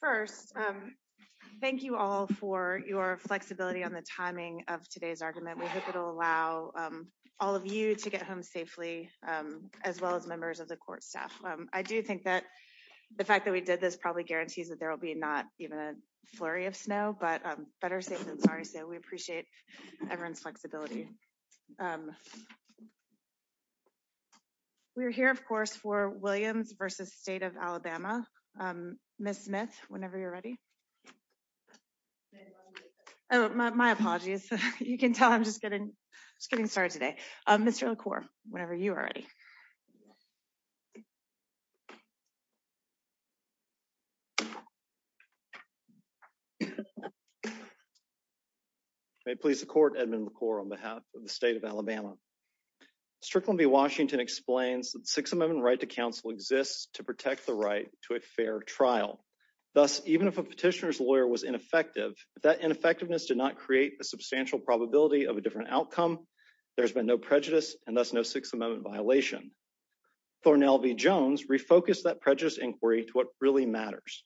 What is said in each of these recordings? First, thank you all for your flexibility on the timing of today's argument. We hope it will allow all of you to get home safely, as well as members of the court staff. I do think that the fact that we did this probably guarantees that there will be not even a flurry of snow, but better safe than sorry. So we appreciate everyone's flexibility. We're here of course for Williams v. State of Alabama. Miss Smith, whenever you're ready. Oh, my apologies. You can tell I'm just getting, just getting started today. Mr. LaCour, whenever you are ready. May it please the court, Edmund LaCour on behalf of the state of Alabama. Strickland v. Washington explains that Sixth Amendment right to counsel exists to protect the right to a fair trial. Thus, even if a petitioner's lawyer was ineffective, that ineffectiveness did not create a substantial probability of a different outcome. There's been no prejudice and thus no Sixth Amendment violation. Thornell v. Jones refocused that prejudice inquiry to what really matters,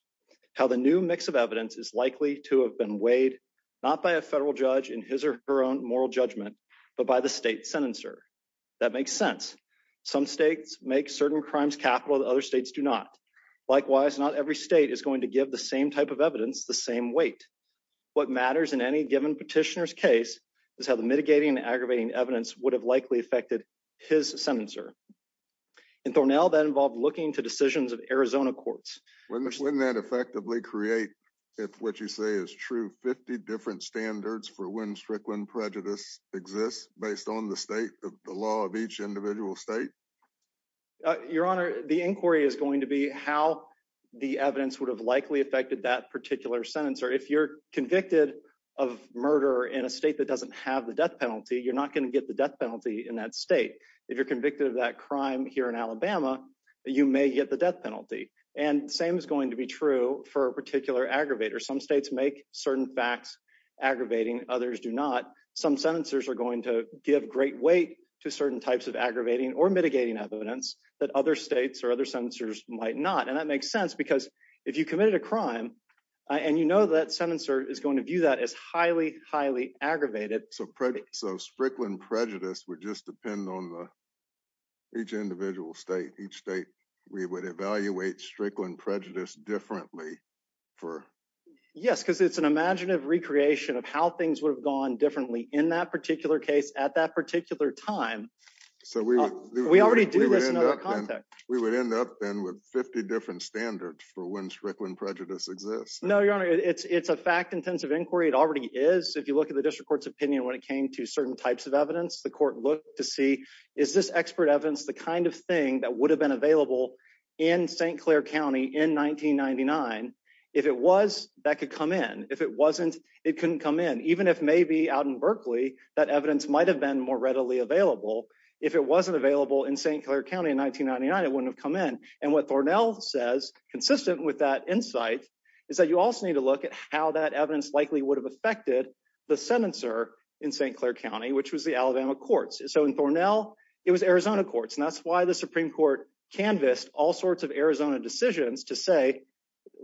how the new mix of evidence is likely to have been weighed, not by a federal judge in his or her own moral judgment, but by the state's sentencer. That makes sense. Some states make certain crimes capital that other states do not. Likewise, not every state is going to give the same type of evidence the same weight. What matters in any given petitioner's case is how the mitigating and aggravating evidence would have likely affected his sentencer. And Thornell, that involved looking to decisions of Arizona courts. Wouldn't that effectively create, if what you say is true, 50 different standards for when Strickland prejudice exists based on the state, the law of each individual state? Your Honor, the inquiry is going to be how the evidence would have likely affected that particular sentencer. If you're convicted of murder in a state that doesn't have the death penalty, you're not going to get the death penalty in that state. If you're convicted of that crime here in Alabama, you may get the death penalty. And the same is going to be true for a particular aggravator. Some states make certain facts aggravating, others do not. Some sentencers are going to give great weight to certain types of aggravating or mitigating evidence that other states or other sentencers might not. And that makes sense because if you committed a crime and you know that sentencer is going to view that as highly, highly aggravated. So Strickland prejudice would just depend on each individual state, each state. We would evaluate Strickland prejudice differently. Yes, because it's an imaginative recreation of how things would have gone differently in that particular case at that particular time. So we already do this in other context. We would end up then with 50 different standards for when Strickland prejudice exists. No, Your Honor, it's a fact intensive inquiry. It already is. If you look at the district court's opinion when it came to certain types of evidence, the court looked to see, is this expert evidence the kind of thing that would have been available in St. Clair County in 1999? If it was, that could come in. If it wasn't, it couldn't come in, even if maybe out in Berkeley, that evidence might have been more readily available. If it wasn't available in St. Clair County in 1999, it wouldn't have come in. And what Thornell says, consistent with that insight, is that you also need to look at how that evidence likely would have affected the senator in St. Clair County, which was the Alabama courts. So in Thornell, it was Arizona courts. And that's why the Supreme Court canvassed all sorts of Arizona decisions to say,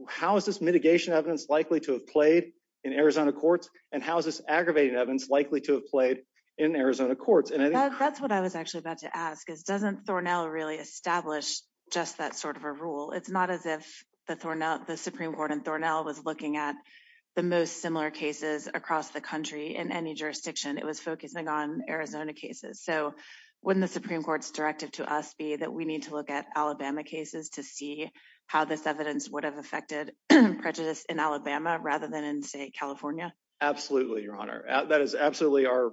how is this mitigation evidence likely to have played in Arizona courts? And how is this aggravating evidence likely to have played in Arizona courts? That's what I was actually about to ask, is doesn't Thornell really establish just that sort of a rule? It's not as if the Supreme Court in Thornell was looking at the most similar cases across the country in any jurisdiction. It was focusing on Arizona cases. So wouldn't the Supreme Court's directive to us be that we need to look at Alabama cases to see how this evidence would have affected prejudice in Alabama rather than in, say, California? Absolutely, Your Honor. That is absolutely our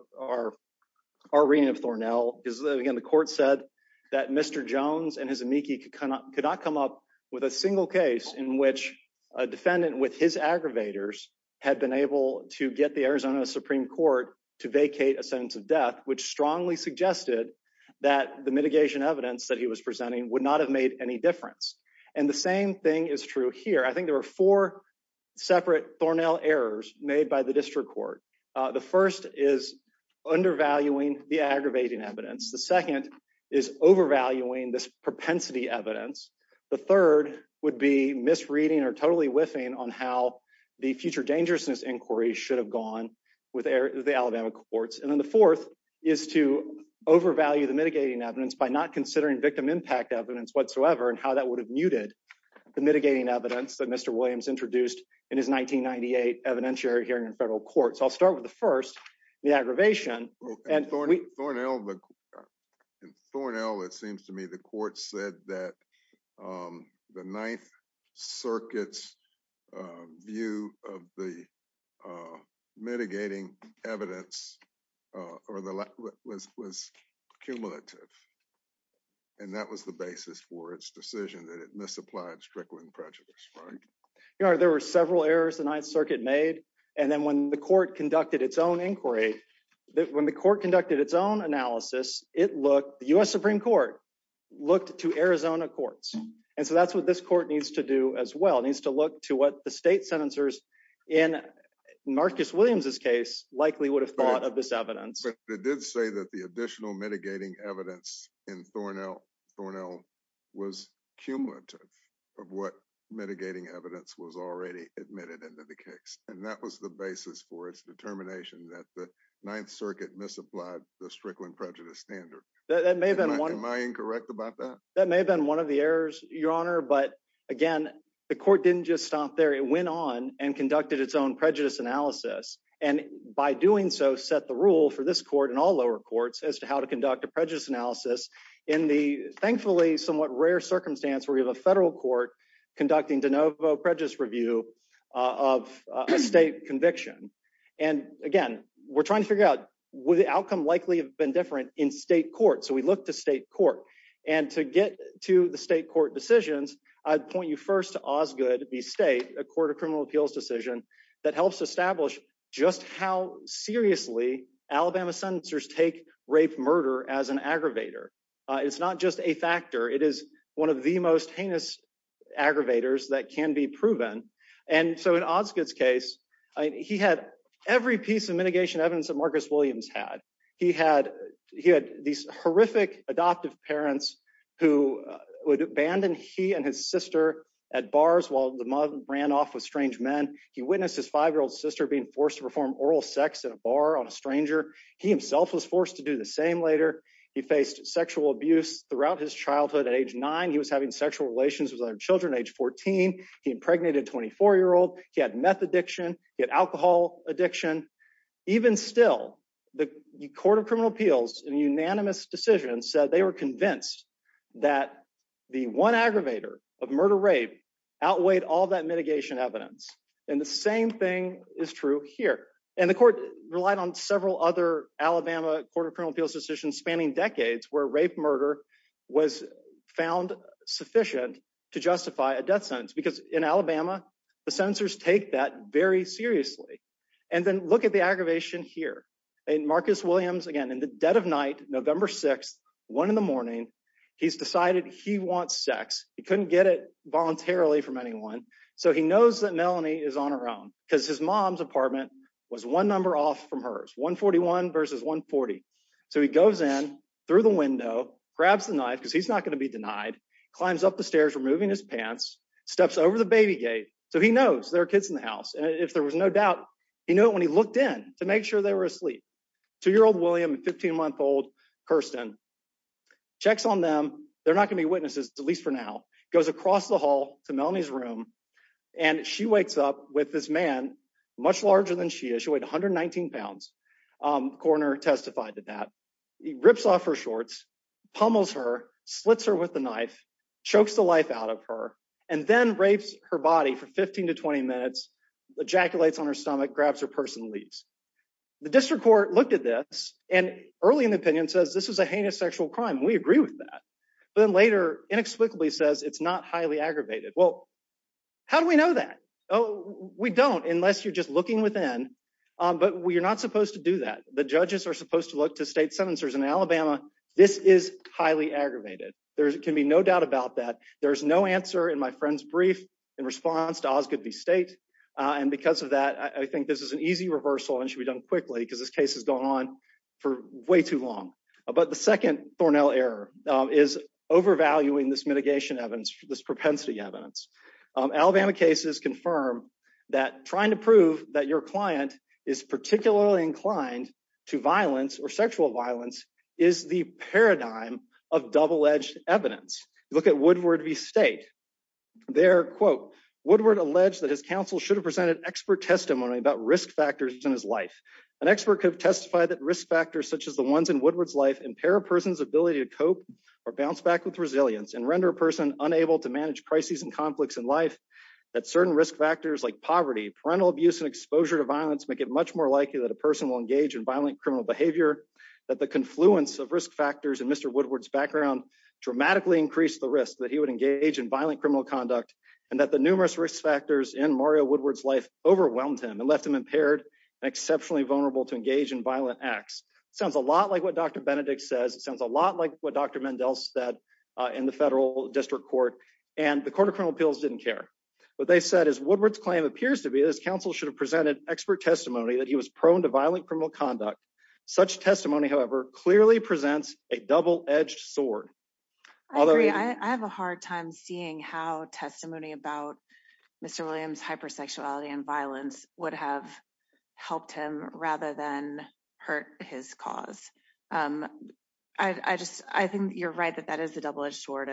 reading of Thornell. Again, the court said that Mr. Jones and his amici could not come up with a single case in which a defendant with his aggravators had been able to get the Arizona Supreme Court to vacate a sentence of death, which strongly suggested that the mitigation evidence that he was presenting would not have made any difference. And the same thing is true here. I think there were four separate Thornell errors made by the district court. The first is undervaluing the aggravating evidence. The second is overvaluing this propensity evidence. The third would be misreading or totally whiffing on how the future dangerousness inquiry should have gone with the Alabama courts. And then the fourth is to overvalue the mitigating evidence by not considering victim impact evidence whatsoever and how that would have muted the mitigating evidence that Mr. Williams introduced in his 1998 evidentiary hearing in federal court. So I'll start with the first, the aggravation. In Thornell, it seems to me the court said that the Ninth Circuit's view of the mitigating evidence was cumulative. And that was the basis for its decision that it misapplied strickling prejudice. There were several errors the Ninth Circuit made. And then when the court conducted its own inquiry, when the court conducted its own analysis, it looked, the U.S. Supreme Court looked to Arizona courts. And so that's what this court needs to do as well, needs to look to what the state sentencers in Marcus Williams's case likely would have thought of this evidence. But it did say that the additional mitigating evidence in Thornell was cumulative of what mitigating evidence was already admitted into the case. And that was the basis for its determination that the Ninth Circuit misapplied the strickling prejudice standard. Am I incorrect about that? That may have been one of the errors, Your Honor, but again, the court didn't just stop there. It went on and conducted its own prejudice analysis. And by doing so, set the rule for this court and all lower courts as to how to conduct a prejudice analysis in the thankfully somewhat rare circumstance where we have a federal court conducting de novo prejudice review of a state conviction. And again, we're trying to figure out, would the outcome likely have been different in state court? So we look to state court. And to get to the state court decisions, I'd point you first to Osgood v. State, a court of criminal appeals decision that helps establish just how seriously Alabama sentencers take rape murder as an aggravator. It's not just a factor. It is one of the most heinous aggravators that can be proven. And so in Osgood's case, he had every piece of mitigation evidence that Marcus Williams had. He had these horrific adoptive parents who would abandon he and his sister at bars while the mother ran off with strange men. He witnessed his five-year-old sister being forced to perform oral sex in a bar on a stranger. He himself was forced to do the same later. He faced sexual abuse throughout his childhood at age nine. He was having sexual relations with other children at age 14. He impregnated a 24-year-old. He had meth addiction. He had alcohol addiction. Even still, the court of criminal appeals, in a unanimous decision, said they were convinced that the one aggravator of murder rape outweighed all that mitigation evidence. And the same thing is true here. And the court relied on several other Alabama court of criminal appeals decisions spanning decades where rape murder was found sufficient to justify a death sentence. Because in Alabama, the sentencers take that very seriously. And then look at the aggravation here. Marcus Williams, again, in the dead of night, November 6th, one in the morning, he's decided he wants sex. He couldn't get it voluntarily from anyone. So he knows that Melanie is on her own because his mom's apartment was one number off from hers, 141 versus 140. So he goes in through the window, grabs the knife because he's not going to be denied, climbs up the stairs, removing his pants, steps over the baby gate. So he knows there are kids in the house. And if there was no doubt, he knew it when he looked in to make sure they were asleep. Two-year-old William and 15-month-old Kirsten. Checks on them. They're not going to be witnesses, at least for now. Goes across the hall to Melanie's room, and she wakes up with this man much larger than she is. She weighed 119 pounds. Coroner testified to that. He rips off her shorts, pummels her, slits her with the knife, chokes the life out of her, and then rapes her body for 15 to 20 minutes. Ejaculates on her stomach, grabs her purse, and leaves. The district court looked at this, and early in the opinion says this was a heinous sexual crime. We agree with that. But then later, inexplicably says it's not highly aggravated. Well, how do we know that? Oh, we don't, unless you're just looking within. But you're not supposed to do that. The judges are supposed to look to state sentencers in Alabama. This is highly aggravated. There can be no doubt about that. There's no answer in my friend's brief in response to Osgoode v. State. And because of that, I think this is an easy reversal and should be done quickly because this case has gone on for way too long. But the second Thornell error is overvaluing this mitigation evidence, this propensity evidence. Alabama cases confirm that trying to prove that your client is particularly inclined to violence or sexual violence is the paradigm of double-edged evidence. Look at Woodward v. State. There, quote, Woodward alleged that his counsel should have presented expert testimony about risk factors in his life. An expert could have testified that risk factors such as the ones in Woodward's life impair a person's ability to cope or bounce back with resilience and render a person unable to manage crises and conflicts in life. That certain risk factors like poverty, parental abuse, and exposure to violence make it much more likely that a person will engage in violent criminal behavior. That the confluence of risk factors in Mr. Woodward's background dramatically increased the risk that he would engage in violent criminal conduct. And that the numerous risk factors in Mario Woodward's life overwhelmed him and left him impaired and exceptionally vulnerable to engage in violent acts. It sounds a lot like what Dr. Benedict says. It sounds a lot like what Dr. Mendel said in the federal district court. And the court of criminal appeals didn't care. What they said is Woodward's claim appears to be that his counsel should have presented expert testimony that he was prone to violent criminal conduct. Such testimony, however, clearly presents a double-edged sword. I agree. I have a hard time seeing how testimony about Mr. Williams' hypersexuality and violence would have helped him rather than hurt his cause. I think you're right that that is a double-edged sword.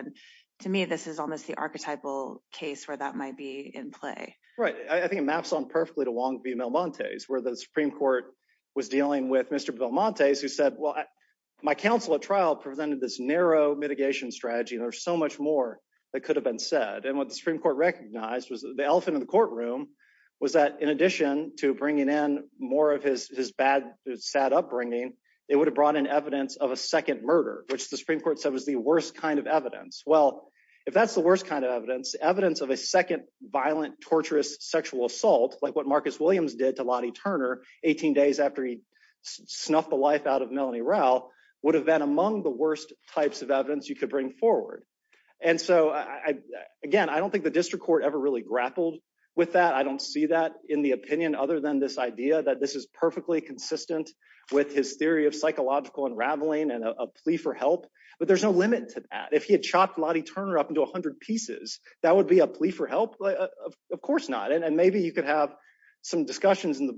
To me, this is almost the archetypal case where that might be in play. Right. I think it maps on perfectly to Wong v. Belmontes. Where the Supreme Court was dealing with Mr. Belmontes who said, well, my counsel at trial presented this narrow mitigation strategy and there's so much more that could have been said. And what the Supreme Court recognized was the elephant in the courtroom was that in addition to bringing in more of his bad, sad upbringing, it would have brought in evidence of a second murder, which the Supreme Court said was the worst kind of evidence. Well, if that's the worst kind of evidence, evidence of a second violent, torturous sexual assault, like what Marcus Williams did to Lottie Turner 18 days after he snuffed the life out of Melanie Rowell, would have been among the worst types of evidence you could bring forward. And so, again, I don't think the district court ever really grappled with that. I don't see that in the opinion other than this idea that this is perfectly consistent with his theory of psychological unraveling and a plea for help. But there's no limit to that. If he had chopped Lottie Turner up into 100 pieces, that would be a plea for help? Of course not. And maybe you could have some discussions in the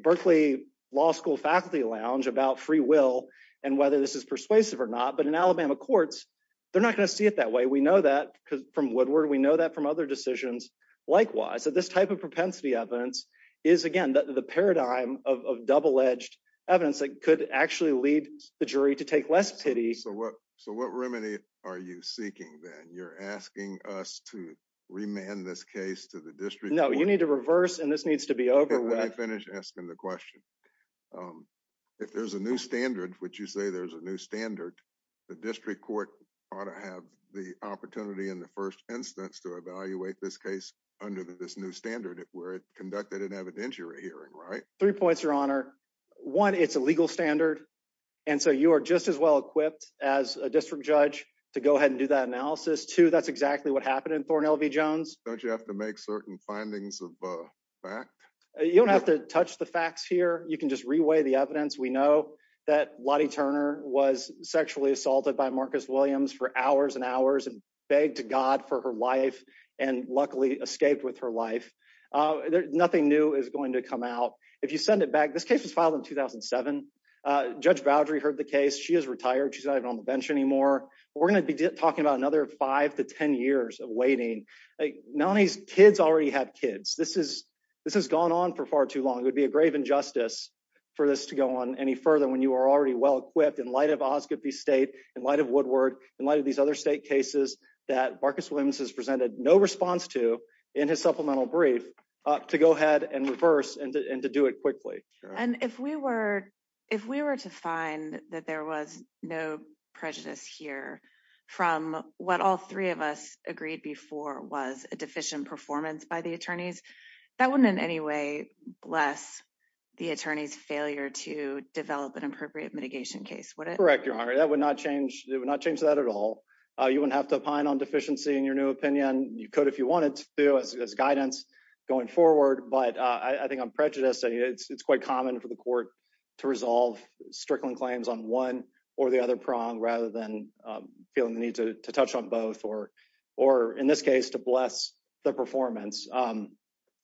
Berkeley Law School faculty lounge about free will and whether this is persuasive or not. But in Alabama courts, they're not going to see it that way. We know that from Woodward. We know that from other decisions likewise. So this type of propensity evidence is, again, the paradigm of double-edged evidence that could actually lead the jury to take less pity. So what remedy are you seeking then? You're asking us to remand this case to the district court? No, you need to reverse, and this needs to be over with. Let me finish asking the question. If there's a new standard, which you say there's a new standard, the district court ought to have the opportunity in the first instance to evaluate this case under this new standard where it conducted an evidentiary hearing, right? Three points, Your Honor. One, it's a legal standard, and so you are just as well equipped as a district judge to go ahead and do that analysis. Two, that's exactly what happened in Thorne L.V. Jones. Don't you have to make certain findings of fact? You don't have to touch the facts here. You can just reweigh the evidence. We know that Lottie Turner was sexually assaulted by Marcus Williams for hours and hours and begged to God for her life and luckily escaped with her life. Nothing new is going to come out. If you send it back, this case was filed in 2007. Judge Boudry heard the case. She is retired. She's not even on the bench anymore. We're going to be talking about another five to 10 years of waiting. Melanie's kids already have kids. This has gone on for far too long. It would be a grave injustice for this to go on any further when you are already well equipped in light of Osgoode v. State, in light of Woodward, in light of these other state cases that Marcus Williams has presented no response to in his supplemental brief to go ahead and reverse and to do it quickly. If we were to find that there was no prejudice here from what all three of us agreed before was a deficient performance by the attorneys, that wouldn't in any way bless the attorney's failure to develop an appropriate mitigation case, would it? Correct, Your Honor. That would not change. It would not change that at all. You wouldn't have to opine on deficiency in your new opinion. You could if you wanted to as guidance going forward, but I think I'm prejudiced. It's quite common for the court to resolve strickling claims on one or the other prong rather than feeling the need to touch on both or or in this case to bless the performance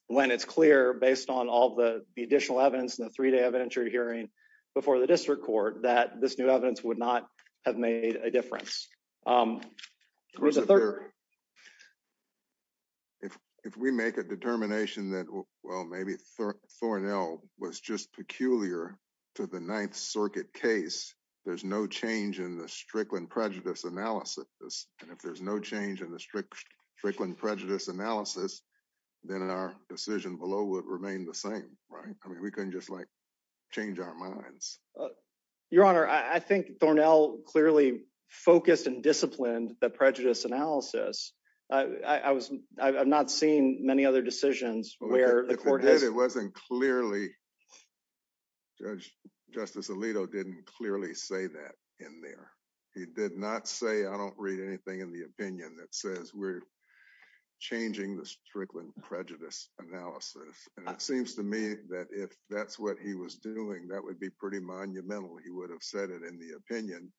when it's clear based on all the additional evidence in the three day evidentiary hearing before the district court that this new evidence would not have made a difference. If we make a determination that, well, maybe Thornell was just peculiar to the Ninth Circuit case, there's no change in the Strickland prejudice analysis. And if there's no change in the Strickland prejudice analysis, then our decision below would remain the same, right? I mean, we can just like change our minds. Your Honor, I think Thornell clearly focused and disciplined the prejudice analysis. I was, I've not seen many other decisions where the court has. It wasn't clearly. Judge Justice Alito didn't clearly say that in there. He did not say I don't read anything in the opinion that says we're changing the Strickland prejudice analysis. And it seems to me that if that's what he was doing, that would be pretty monumental. He would have said it in the opinion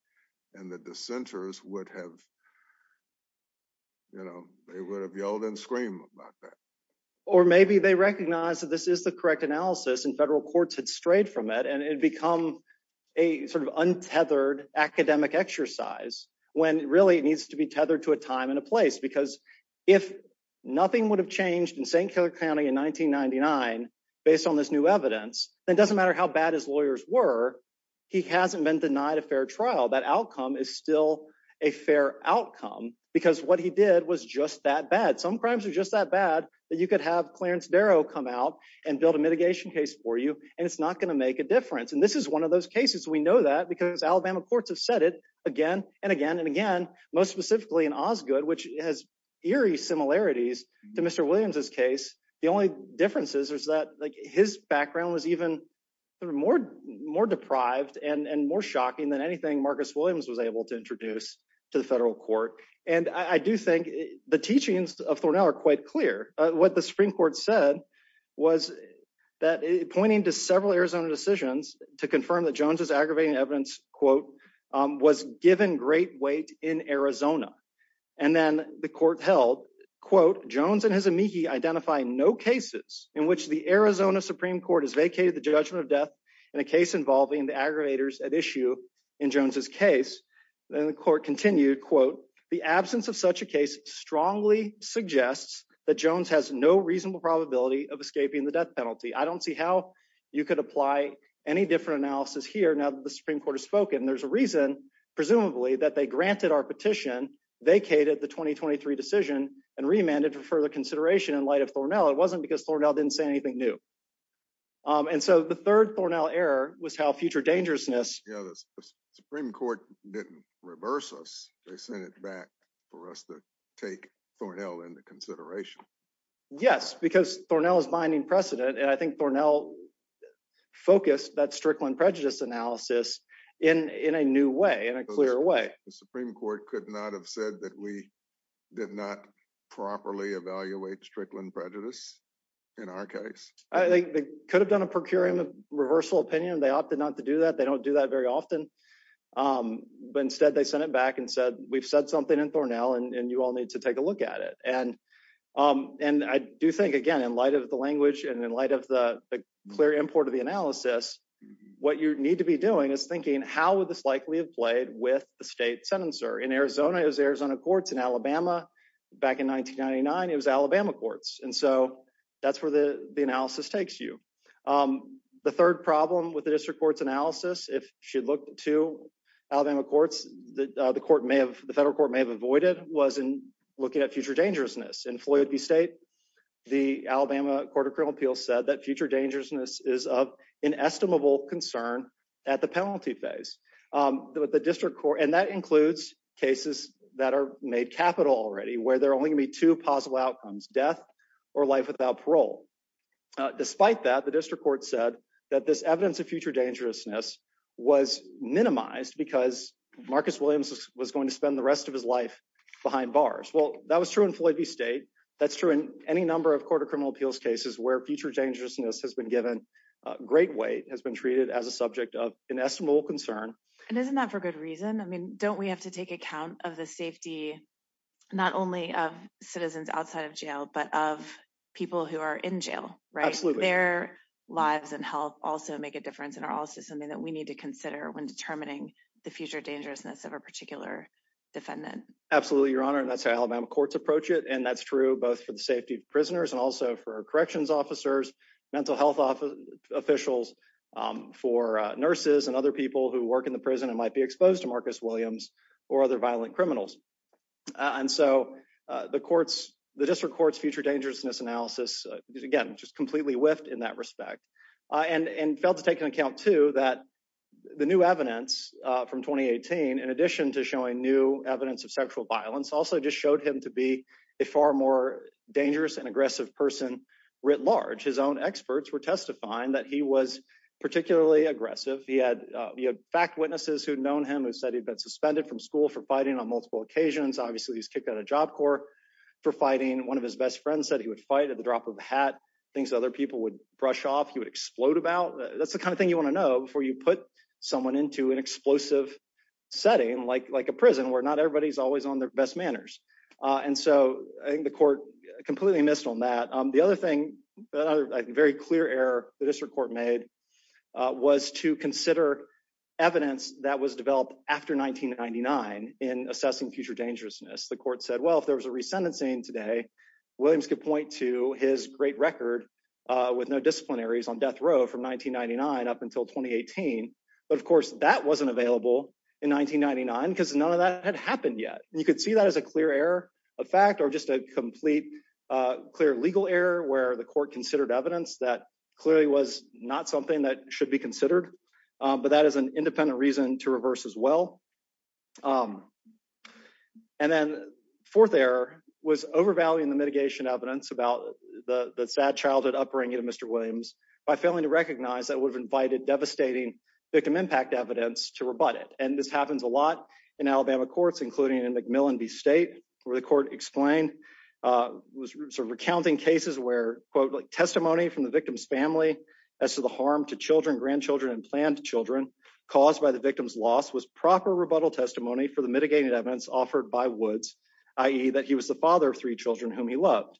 and the dissenters would have, you know, they would have yelled and screamed about that. Or maybe they recognize that this is the correct analysis and federal courts had strayed from it. And it'd become a sort of untethered academic exercise when really it needs to be tethered to a time and a place. Because if nothing would have changed in St. Cloud County in 1999, based on this new evidence, it doesn't matter how bad his lawyers were. He hasn't been denied a fair trial. That outcome is still a fair outcome because what he did was just that bad. Some crimes are just that bad that you could have Clarence Darrow come out and build a mitigation case for you. And it's not going to make a difference. And this is one of those cases. We know that because Alabama courts have said it again and again and again, most specifically in Osgoode, which has eerie similarities to Mr. Williams's case. The only differences is that his background was even more deprived and more shocking than anything Marcus Williams was able to introduce to the federal court. And I do think the teachings of Thornell are quite clear. What the Supreme Court said was that pointing to several Arizona decisions to confirm that Jones's aggravating evidence, quote, was given great weight in Arizona. And then the court held, quote, Jones and his amici identify no cases in which the Arizona Supreme Court has vacated the judgment of death in a case involving the aggravators at issue in Jones's case. And the court continued, quote, The absence of such a case strongly suggests that Jones has no reasonable probability of escaping the death penalty. I don't see how you could apply any different analysis here now that the Supreme Court has spoken. There's a reason, presumably, that they granted our petition, vacated the 2023 decision and remanded for further consideration in light of Thornell. It wasn't because Thornell didn't say anything new. And so the third Thornell error was how future dangerousness. You know, the Supreme Court didn't reverse us. They sent it back for us to take Thornell into consideration. Yes, because Thornell is binding precedent. And I think Thornell focused that Strickland prejudice analysis in in a new way, in a clear way. The Supreme Court could not have said that we did not properly evaluate Strickland prejudice in our case. I think they could have done a procuring reversal opinion. They opted not to do that. They don't do that very often. But instead, they sent it back and said, we've said something in Thornell and you all need to take a look at it. And and I do think, again, in light of the language and in light of the clear import of the analysis, what you need to be doing is thinking, how would this likely have played with the state sentencer in Arizona? It was Arizona courts in Alabama back in 1999. It was Alabama courts. And so that's where the analysis takes you. The third problem with the district court's analysis, if you look to Alabama courts that the court may have, the federal court may have avoided, was looking at future dangerousness. In Floyd v. State, the Alabama Court of Criminal Appeals said that future dangerousness is of inestimable concern at the penalty phase. The district court, and that includes cases that are made capital already, where there are only two possible outcomes, death or life without parole. Despite that, the district court said that this evidence of future dangerousness was minimized because Marcus Williams was going to spend the rest of his life behind bars. Well, that was true in Floyd v. State. That's true in any number of court of criminal appeals cases where future dangerousness has been given great weight, has been treated as a subject of inestimable concern. And isn't that for good reason? I mean, don't we have to take account of the safety, not only of citizens outside of jail, but of people who are in jail, right? Absolutely. Their lives and health also make a difference and are also something that we need to consider when determining the future dangerousness of a particular defendant. Absolutely, Your Honor, and that's how Alabama courts approach it. And that's true both for the safety of prisoners and also for corrections officers, mental health officials, for nurses and other people who work in the prison and might be exposed to Marcus Williams or other violent criminals. And so the district court's future dangerousness analysis is, again, just completely whiffed in that respect. And failed to take into account, too, that the new evidence from 2018, in addition to showing new evidence of sexual violence, also just showed him to be a far more dangerous and aggressive person writ large. His own experts were testifying that he was particularly aggressive. He had fact witnesses who had known him who said he'd been suspended from school for fighting on multiple occasions. Obviously, he was kicked out of Job Corps for fighting. One of his best friends said he would fight at the drop of a hat, things other people would brush off, he would explode about. That's the kind of thing you want to know before you put someone into an explosive setting like a prison where not everybody's always on their best manners. And so I think the court completely missed on that. The other thing, a very clear error the district court made, was to consider evidence that was developed after 1999 in assessing future dangerousness. The court said, well, if there was a resentencing today, Williams could point to his great record with no disciplinaries on death row from 1999 up until 2018. But, of course, that wasn't available in 1999 because none of that had happened yet. You could see that as a clear error of fact or just a complete clear legal error where the court considered evidence that clearly was not something that should be considered. But that is an independent reason to reverse as well. And then fourth error was overvaluing the mitigation evidence about the sad childhood upbringing of Mr. Williams by failing to recognize that would have invited devastating victim impact evidence to rebut it. And this happens a lot in Alabama courts, including in McMillan v. State, where the court explained was sort of recounting cases where, quote, testimony from the victim's family as to the harm to children, grandchildren, and planned children caused by the victim's loss was proper rebuttal testimony for the mitigating evidence offered by Woods, i.e. that he was the father of three children whom he loved.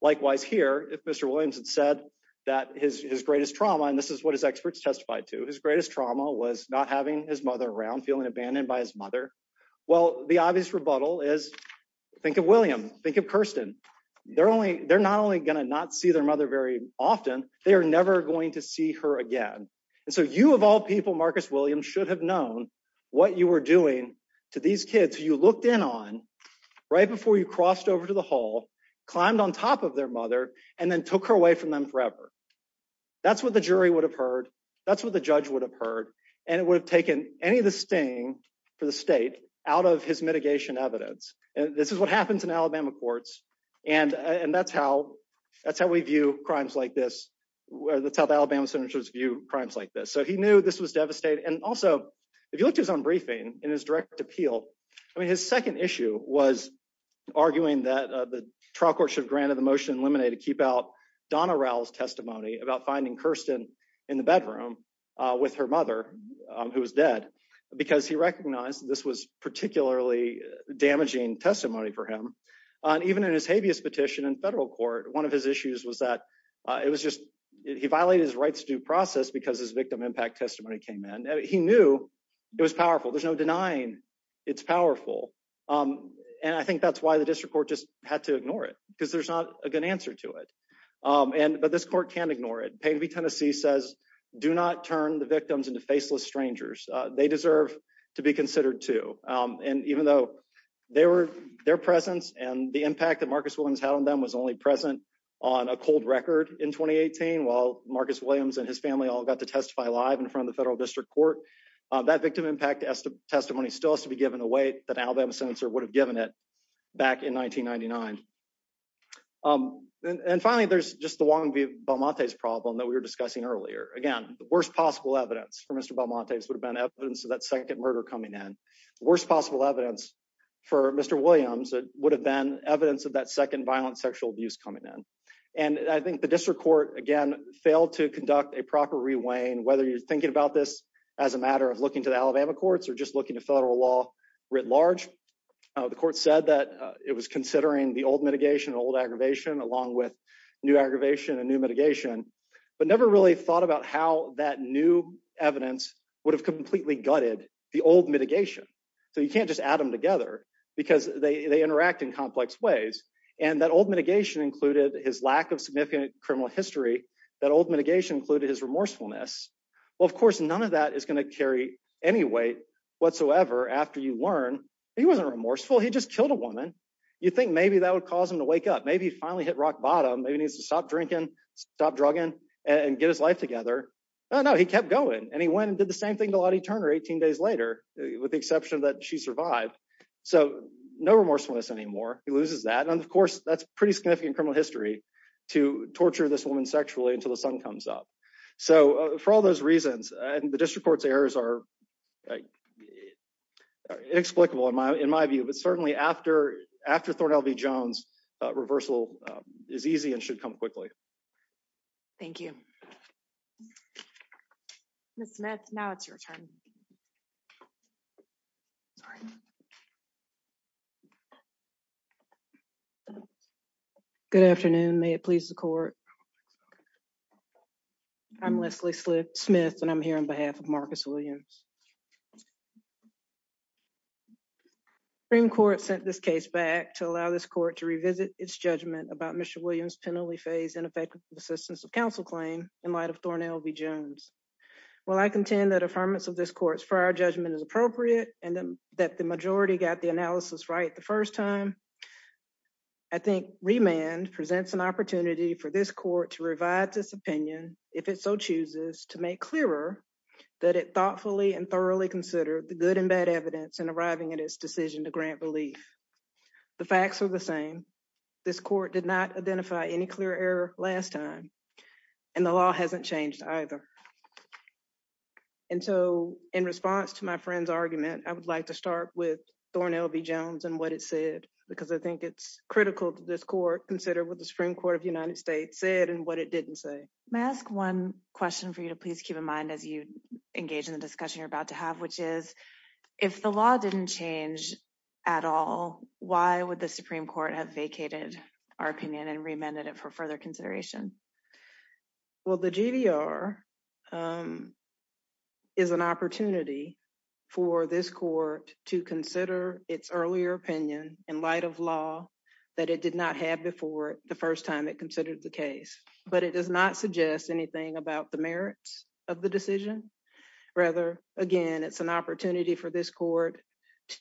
Likewise here, if Mr. Williams had said that his greatest trauma, and this is what his experts testified to, his greatest trauma was not having his mother around, feeling abandoned by his mother. Well, the obvious rebuttal is, think of William, think of Kirsten. They're not only going to not see their mother very often, they are never going to see her again. And so you of all people, Marcus Williams, should have known what you were doing to these kids you looked in on right before you crossed over to the hall, climbed on top of their mother, and then took her away from them forever. That's what the jury would have heard. That's what the judge would have heard, and it would have taken any of the sting for the state out of his mitigation evidence. This is what happens in Alabama courts, and that's how we view crimes like this. That's how the Alabama senators view crimes like this. So he knew this was devastating, and also, if you look at his own briefing and his direct appeal, I mean his second issue was arguing that the trial court should have granted the motion in limine to keep out Donna Rowell's testimony about finding Kirsten in the bedroom with her mother, who was dead, because he recognized this was particularly damaging testimony for him. Even in his habeas petition in federal court, one of his issues was that he violated his rights due process because his victim impact testimony came in. He knew it was powerful. There's no denying it's powerful. And I think that's why the district court just had to ignore it, because there's not a good answer to it. But this court can't ignore it. Payton v. Tennessee says, do not turn the victims into faceless strangers. They deserve to be considered too. And even though their presence and the impact that Marcus Williams had on them was only present on a cold record in 2018, while Marcus Williams and his family all got to testify live in front of the federal district court, that victim impact testimony still has to be given away the Alabama senator would have given it back in 1999. And finally, there's just the Wong v. Balmonte's problem that we were discussing earlier. Again, the worst possible evidence for Mr. Balmonte's would have been evidence of that second murder coming in. Worst possible evidence for Mr. Williams would have been evidence of that second violent sexual abuse coming in. And I think the district court, again, failed to conduct a proper reweighing, whether you're thinking about this as a matter of looking to the Alabama courts or just looking to federal law writ large. The court said that it was considering the old mitigation, old aggravation, along with new aggravation and new mitigation, but never really thought about how that new evidence would have completely gutted the old mitigation. So you can't just add them together, because they interact in complex ways, and that old mitigation included his lack of significant criminal history, that old mitigation included his remorsefulness. Well, of course, none of that is going to carry any weight whatsoever after you learn he wasn't remorseful, he just killed a woman. You think maybe that would cause him to wake up, maybe he finally hit rock bottom, maybe he needs to stop drinking, stop drugging, and get his life together. No, no, he kept going, and he went and did the same thing to Lottie Turner 18 days later, with the exception that she survived. So, no remorsefulness anymore, he loses that, and of course, that's pretty significant criminal history to torture this woman sexually until the sun comes up. So, for all those reasons, and the district court's errors are inexplicable in my view, but certainly after Thornton LV Jones, reversal is easy and should come quickly. Thank you. Miss Smith, now it's your turn. Sorry. Good afternoon, may it please the court. I'm Leslie Smith and I'm here on behalf of Marcus Williams. Supreme Court sent this case back to allow this court to revisit its judgment about Mr. Williams penalty phase and effective assistance of counsel claim in light of Thornton LV Jones. While I contend that affirmance of this court's prior judgment is appropriate, and that the majority got the analysis right the first time. I think remand presents an opportunity for this court to revise this opinion, if it so chooses to make clearer that it thoughtfully and thoroughly consider the good and bad evidence and arriving at his decision to grant relief. The facts are the same. This court did not identify any clear error, last time, and the law hasn't changed either. And so, in response to my friend's argument, I would like to start with Thornton LV Jones and what it said, because I think it's critical to this court consider what the Supreme Court of the United States said and what it didn't say. May I ask one question for you to please keep in mind as you engage in the discussion you're about to have, which is, if the law didn't change at all, why would the Supreme Court have vacated our opinion and remanded it for further consideration. Well, the GDR is an opportunity for this court to consider its earlier opinion in light of law that it did not have before the first time it considered the case, but it does not suggest anything about the merits of the decision. Rather, again, it's an opportunity for this court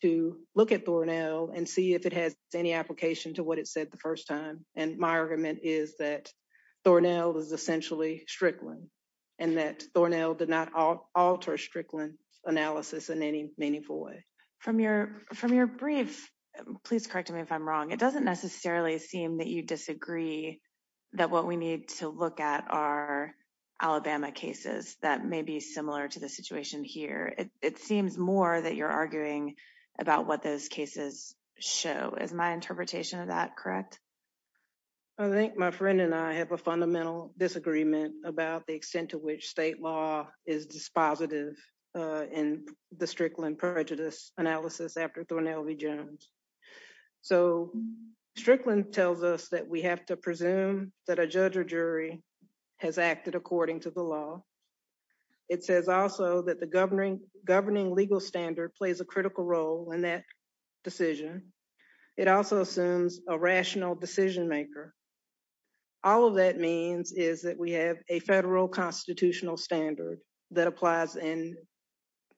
to look at Thornell and see if it has any application to what it said the first time. And my argument is that Thornell is essentially Strickland, and that Thornell did not alter Strickland's analysis in any meaningful way. From your brief, please correct me if I'm wrong, it doesn't necessarily seem that you disagree that what we need to look at are Alabama cases that may be similar to the situation here. It seems more that you're arguing about what those cases show. Is my interpretation of that correct? I think my friend and I have a fundamental disagreement about the extent to which state law is dispositive in the Strickland prejudice analysis after Thornell v. Jones. So, Strickland tells us that we have to presume that a judge or jury has acted according to the law. It says also that the governing legal standard plays a critical role in that decision. It also assumes a rational decision maker. All of that means is that we have a federal constitutional standard that applies in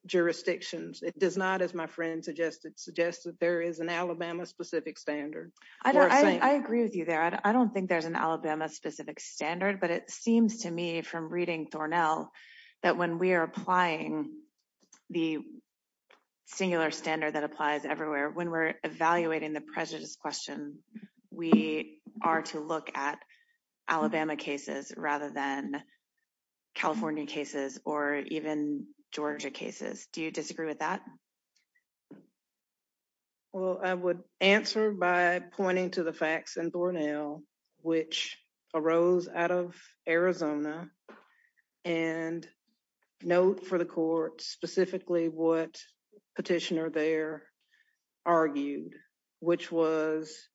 jurisdictions. It does not, as my friend suggested, suggest that there is an Alabama specific standard. I agree with you there. I don't think there's an Alabama specific standard, but it seems to me from reading Thornell that when we are applying the singular standard that applies everywhere, when we're evaluating the prejudice question, we are to look at Alabama cases rather than California cases or even Georgia cases. Do you disagree with that? Well, I would answer by pointing to the facts in Thornell, which arose out of Arizona, and note for the court specifically what Petitioner there argued, which was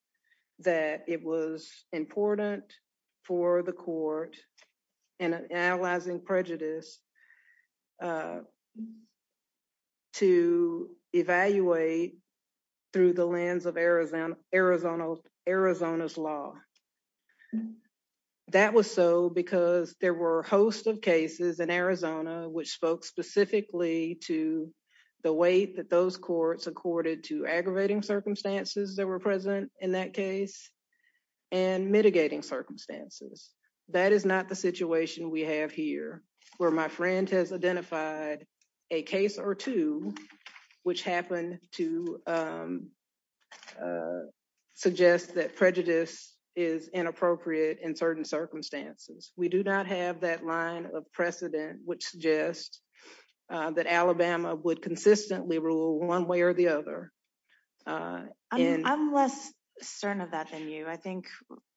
that it was important for the court in analyzing prejudice to evaluate through the lens of Arizona's law. That was so because there were a host of cases in Arizona which spoke specifically to the way that those courts accorded to aggravating circumstances that were present in that case and mitigating circumstances. That is not the situation we have here, where my friend has identified a case or two which happen to suggest that prejudice is inappropriate in certain circumstances. We do not have that line of precedent which suggests that Alabama would consistently rule one way or the other. I'm less certain of that than you. I think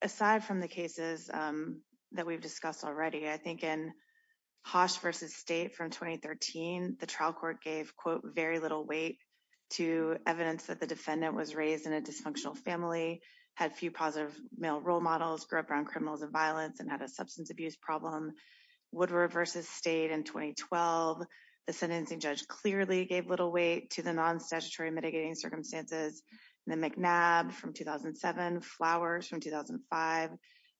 aside from the cases that we've discussed already, I think in Hosch v. State from 2013, the trial court gave, quote, very little weight to evidence that the defendant was raised in a dysfunctional family, had few positive male role models, grew up around criminals and violence, and had a substance abuse problem. Woodrow v. State in 2012, the sentencing judge clearly gave little weight to the non-statutory mitigating circumstances. Then McNabb from 2007, Flowers from 2005,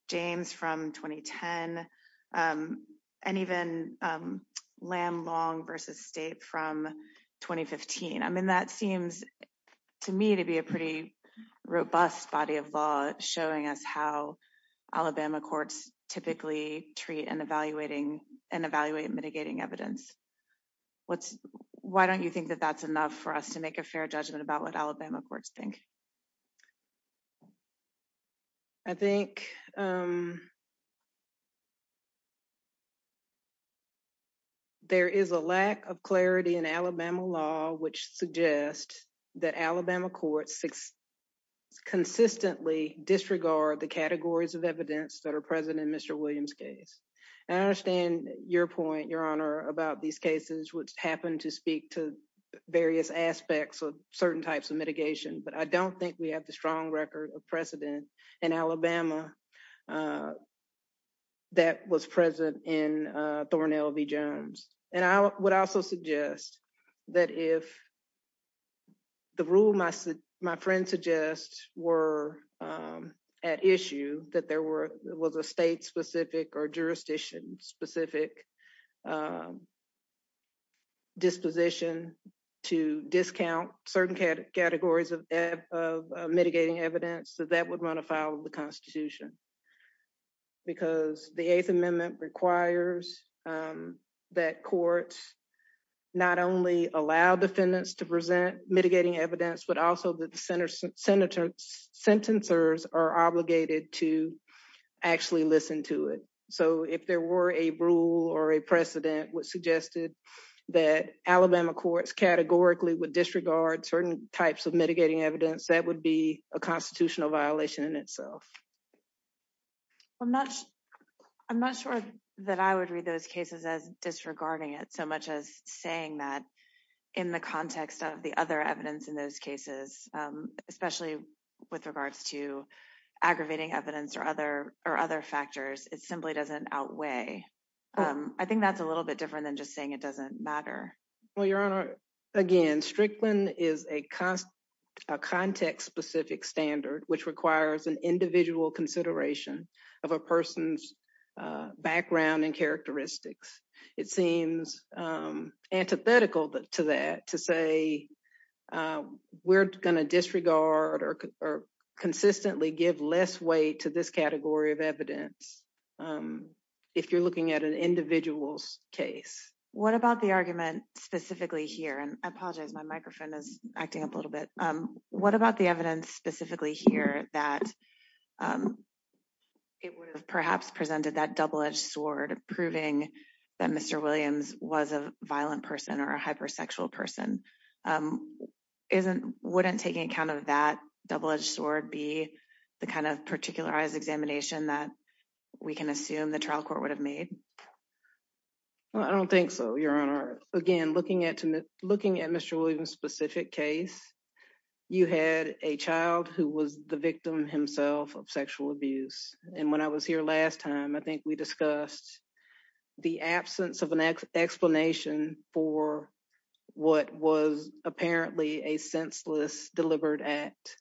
James from 2010, and even Lamb-Long v. State from 2015. That seems to me to be a pretty robust body of law showing us how Alabama courts typically treat and evaluate mitigating evidence. Why don't you think that that's enough for us to make a fair judgment about what Alabama courts think? I think there is a lack of clarity in Alabama law which suggests that Alabama courts consistently disregard the categories of evidence that are present in Mr. Williams' case. I understand your point, Your Honor, about these cases which happen to speak to various aspects of certain types of mitigation, but I don't think we have the strong record of precedent in Alabama that was present in Thornel v. Jones. I would also suggest that if the rule my friend suggests were at issue, that there was a state-specific or jurisdiction-specific disposition to discount certain categories of mitigating evidence, that that would run afoul of the Constitution. The Eighth Amendment requires that courts not only allow defendants to present mitigating evidence, but also that the sentencers are obligated to actually listen to it. If there were a rule or a precedent which suggested that Alabama courts categorically would disregard certain types of mitigating evidence, that would be a constitutional violation in itself. I'm not sure that I would read those cases as disregarding it so much as saying that in the context of the other evidence in those cases, especially with regards to aggravating evidence or other factors, it simply doesn't outweigh. I think that's a little bit different than just saying it doesn't matter. Well, Your Honor, again, Strickland is a context-specific standard which requires an individual consideration of a person's background and characteristics. It seems antithetical to that, to say we're going to disregard or consistently give less weight to this category of evidence if you're looking at an individual's case. What about the argument specifically here, and I apologize my microphone is acting up a little bit. What about the evidence specifically here that it would have perhaps presented that double-edged sword proving that Mr. Williams was a violent person or a hypersexual person? Wouldn't taking account of that double-edged sword be the kind of particularized examination that we can assume the trial court would have made? I don't think so, Your Honor. Again, looking at Mr. Williams' specific case, you had a child who was the victim himself of sexual abuse. And when I was here last time, I think we discussed the absence of an explanation for what was apparently a senseless, deliberate act.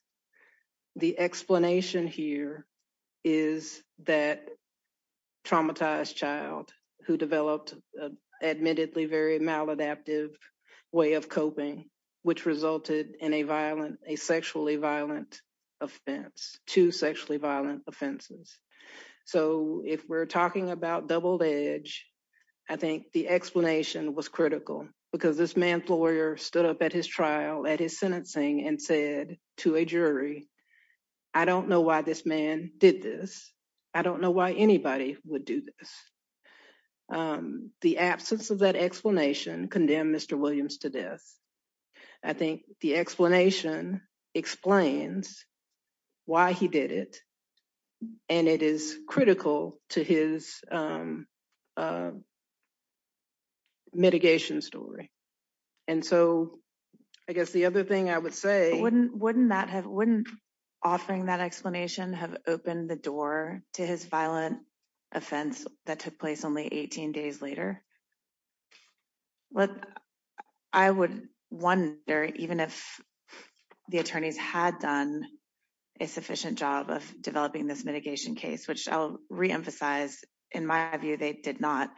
The explanation here is that traumatized child who developed an admittedly very maladaptive way of coping, which resulted in a sexually violent offense, two sexually violent offenses. So if we're talking about double-edged, I think the explanation was critical because this man's lawyer stood up at his trial, at his sentencing, and said to a jury, I don't know why this man did this. I don't know why anybody would do this. The absence of that explanation condemned Mr. Williams to death. I think the explanation explains why he did it. And it is critical to his mitigation story. And so, I guess the other thing I would say... Wouldn't offering that explanation have opened the door to his violent offense that took place only 18 days later? I would wonder, even if the attorneys had done a sufficient job of developing this mitigation case, which I'll reemphasize, in my view, they did not.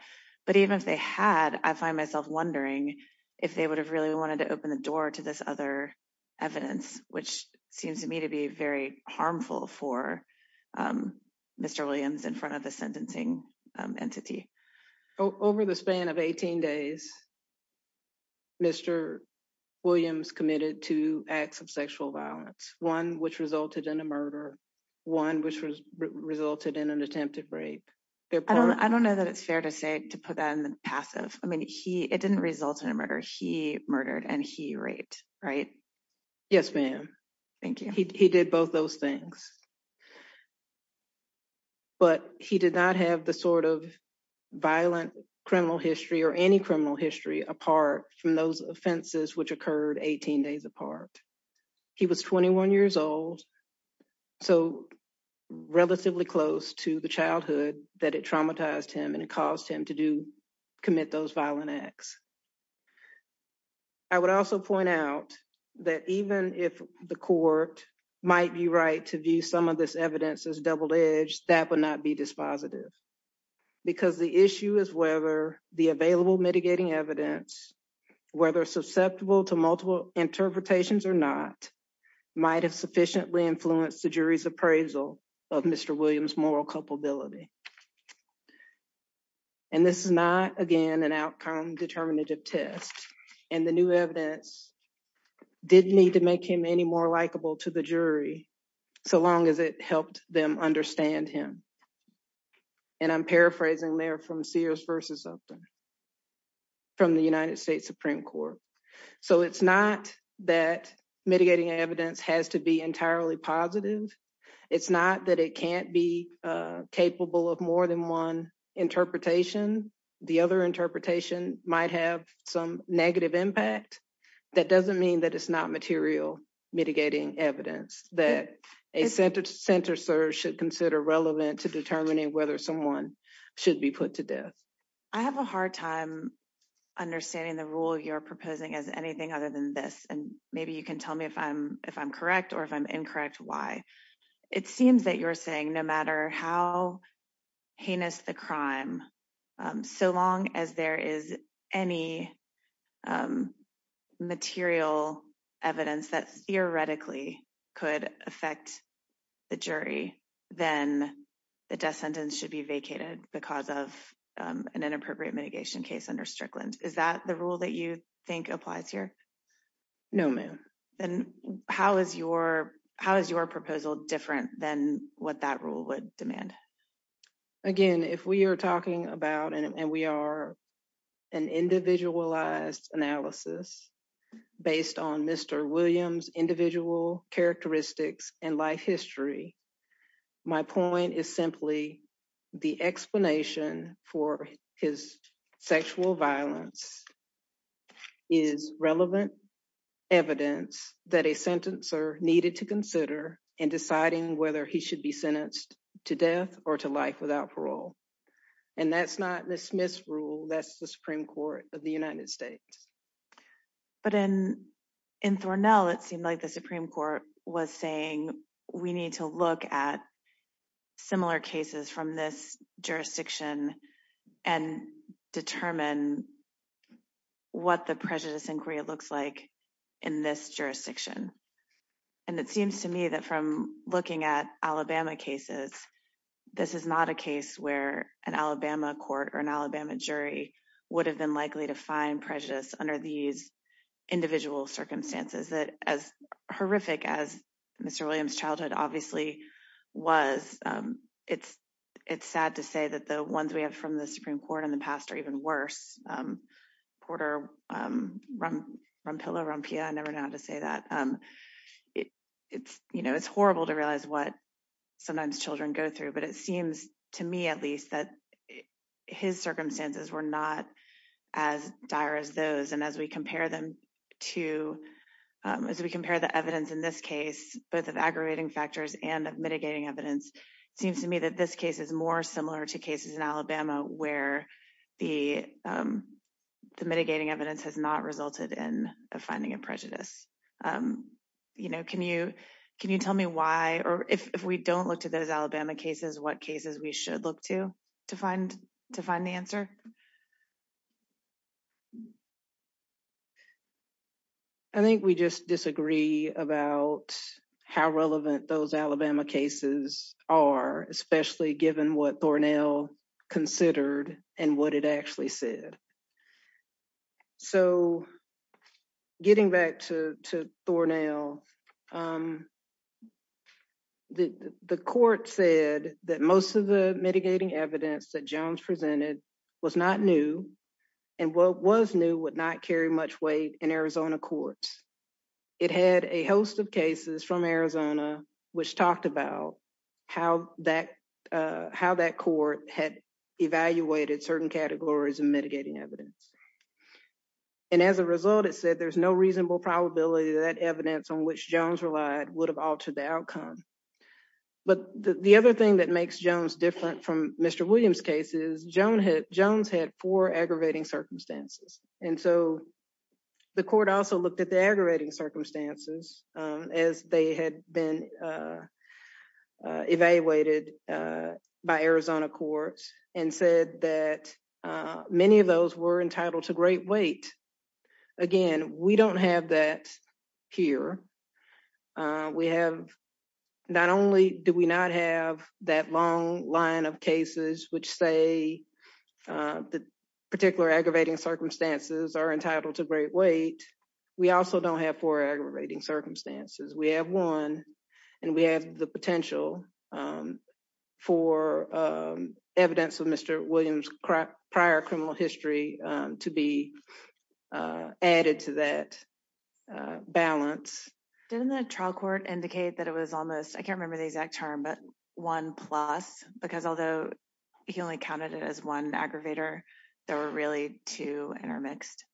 But even if they had, I find myself wondering if they would have really wanted to open the door to this other evidence, which seems to me to be very harmful for Mr. Williams in front of the sentencing entity. Over the span of 18 days, Mr. Williams committed two acts of sexual violence, one which resulted in a murder, one which resulted in an attempted rape. I don't know that it's fair to say, to put that in the passive. I mean, it didn't result in a murder, he murdered and he raped, right? Yes, ma'am. Thank you. He did both those things. But he did not have the sort of violent criminal history or any criminal history apart from those offenses which occurred 18 days apart. He was 21 years old, so relatively close to the childhood that it traumatized him and it caused him to commit those violent acts. I would also point out that even if the court might be right to view some of this evidence as double edged, that would not be dispositive. Because the issue is whether the available mitigating evidence, whether susceptible to multiple interpretations or not, might have sufficiently influenced the jury's appraisal of Mr. Williams' moral culpability. And this is not, again, an outcome determinative test. And the new evidence didn't need to make him any more likable to the jury, so long as it helped them understand him. And I'm paraphrasing there from Sears v. Upton, from the United States Supreme Court. So it's not that mitigating evidence has to be entirely positive. It's not that it can't be capable of more than one interpretation. The other interpretation might have some negative impact. That doesn't mean that it's not material mitigating evidence that a center search should consider relevant to determining whether someone should be put to death. I have a hard time understanding the rule you're proposing as anything other than this. And maybe you can tell me if I'm if I'm correct or if I'm incorrect. Why? It seems that you're saying no matter how heinous the crime, so long as there is any material evidence that theoretically could affect the jury, then the death sentence should be vacated because of an inappropriate mitigation case under Strickland. Is that the rule that you think applies here? No, ma'am. And how is your how is your proposal different than what that rule would demand? Again, if we are talking about and we are an individualized analysis based on Mr. Williams individual characteristics and life history. My point is simply the explanation for his sexual violence is relevant evidence that a sentence or needed to consider in deciding whether he should be sentenced to death or to life without parole. And that's not the Smith's rule that's the Supreme Court of the United States. But in in Thornell, it seemed like the Supreme Court was saying we need to look at similar cases from this jurisdiction and determine what the prejudice inquiry looks like in this jurisdiction. And it seems to me that from looking at Alabama cases, this is not a case where an Alabama court or an Alabama jury would have been likely to find prejudice under these individual circumstances that as horrific as Mr. I never know how to say that. It's, you know, it's horrible to realize what sometimes children go through, but it seems to me at least that his circumstances were not as dire as those. As we compare them to as we compare the evidence in this case, both of aggravating factors and of mitigating evidence seems to me that this case is more similar to cases in Alabama, where the mitigating evidence has not resulted in a finding of prejudice. You know, can you can you tell me why or if we don't look to those Alabama cases, what cases we should look to to find to find the answer? I think we just disagree about how relevant those Alabama cases are, especially given what Thornell considered and what it actually said. So, getting back to Thornell, the court said that most of the mitigating evidence that Jones presented was not new and what was new would not carry much weight in Arizona courts. It had a host of cases from Arizona, which talked about how that how that court had evaluated certain categories and mitigating evidence. And as a result, it said there's no reasonable probability that evidence on which Jones relied would have altered the outcome. But the other thing that makes Jones different from Mr. Williams case is Jones had four aggravating circumstances. And so the court also looked at the aggravating circumstances as they had been evaluated by Arizona courts and said that many of those were entitled to great weight. Again, we don't have that here. We have not only do we not have that long line of cases which say the particular aggravating circumstances are entitled to great weight. We also don't have four aggravating circumstances. We have one, and we have the potential for evidence of Mr. Williams prior criminal history to be added to that balance. Didn't the trial court indicate that it was almost I can't remember the exact term but one plus because although he only counted it as one aggravator. There were really two intermixed.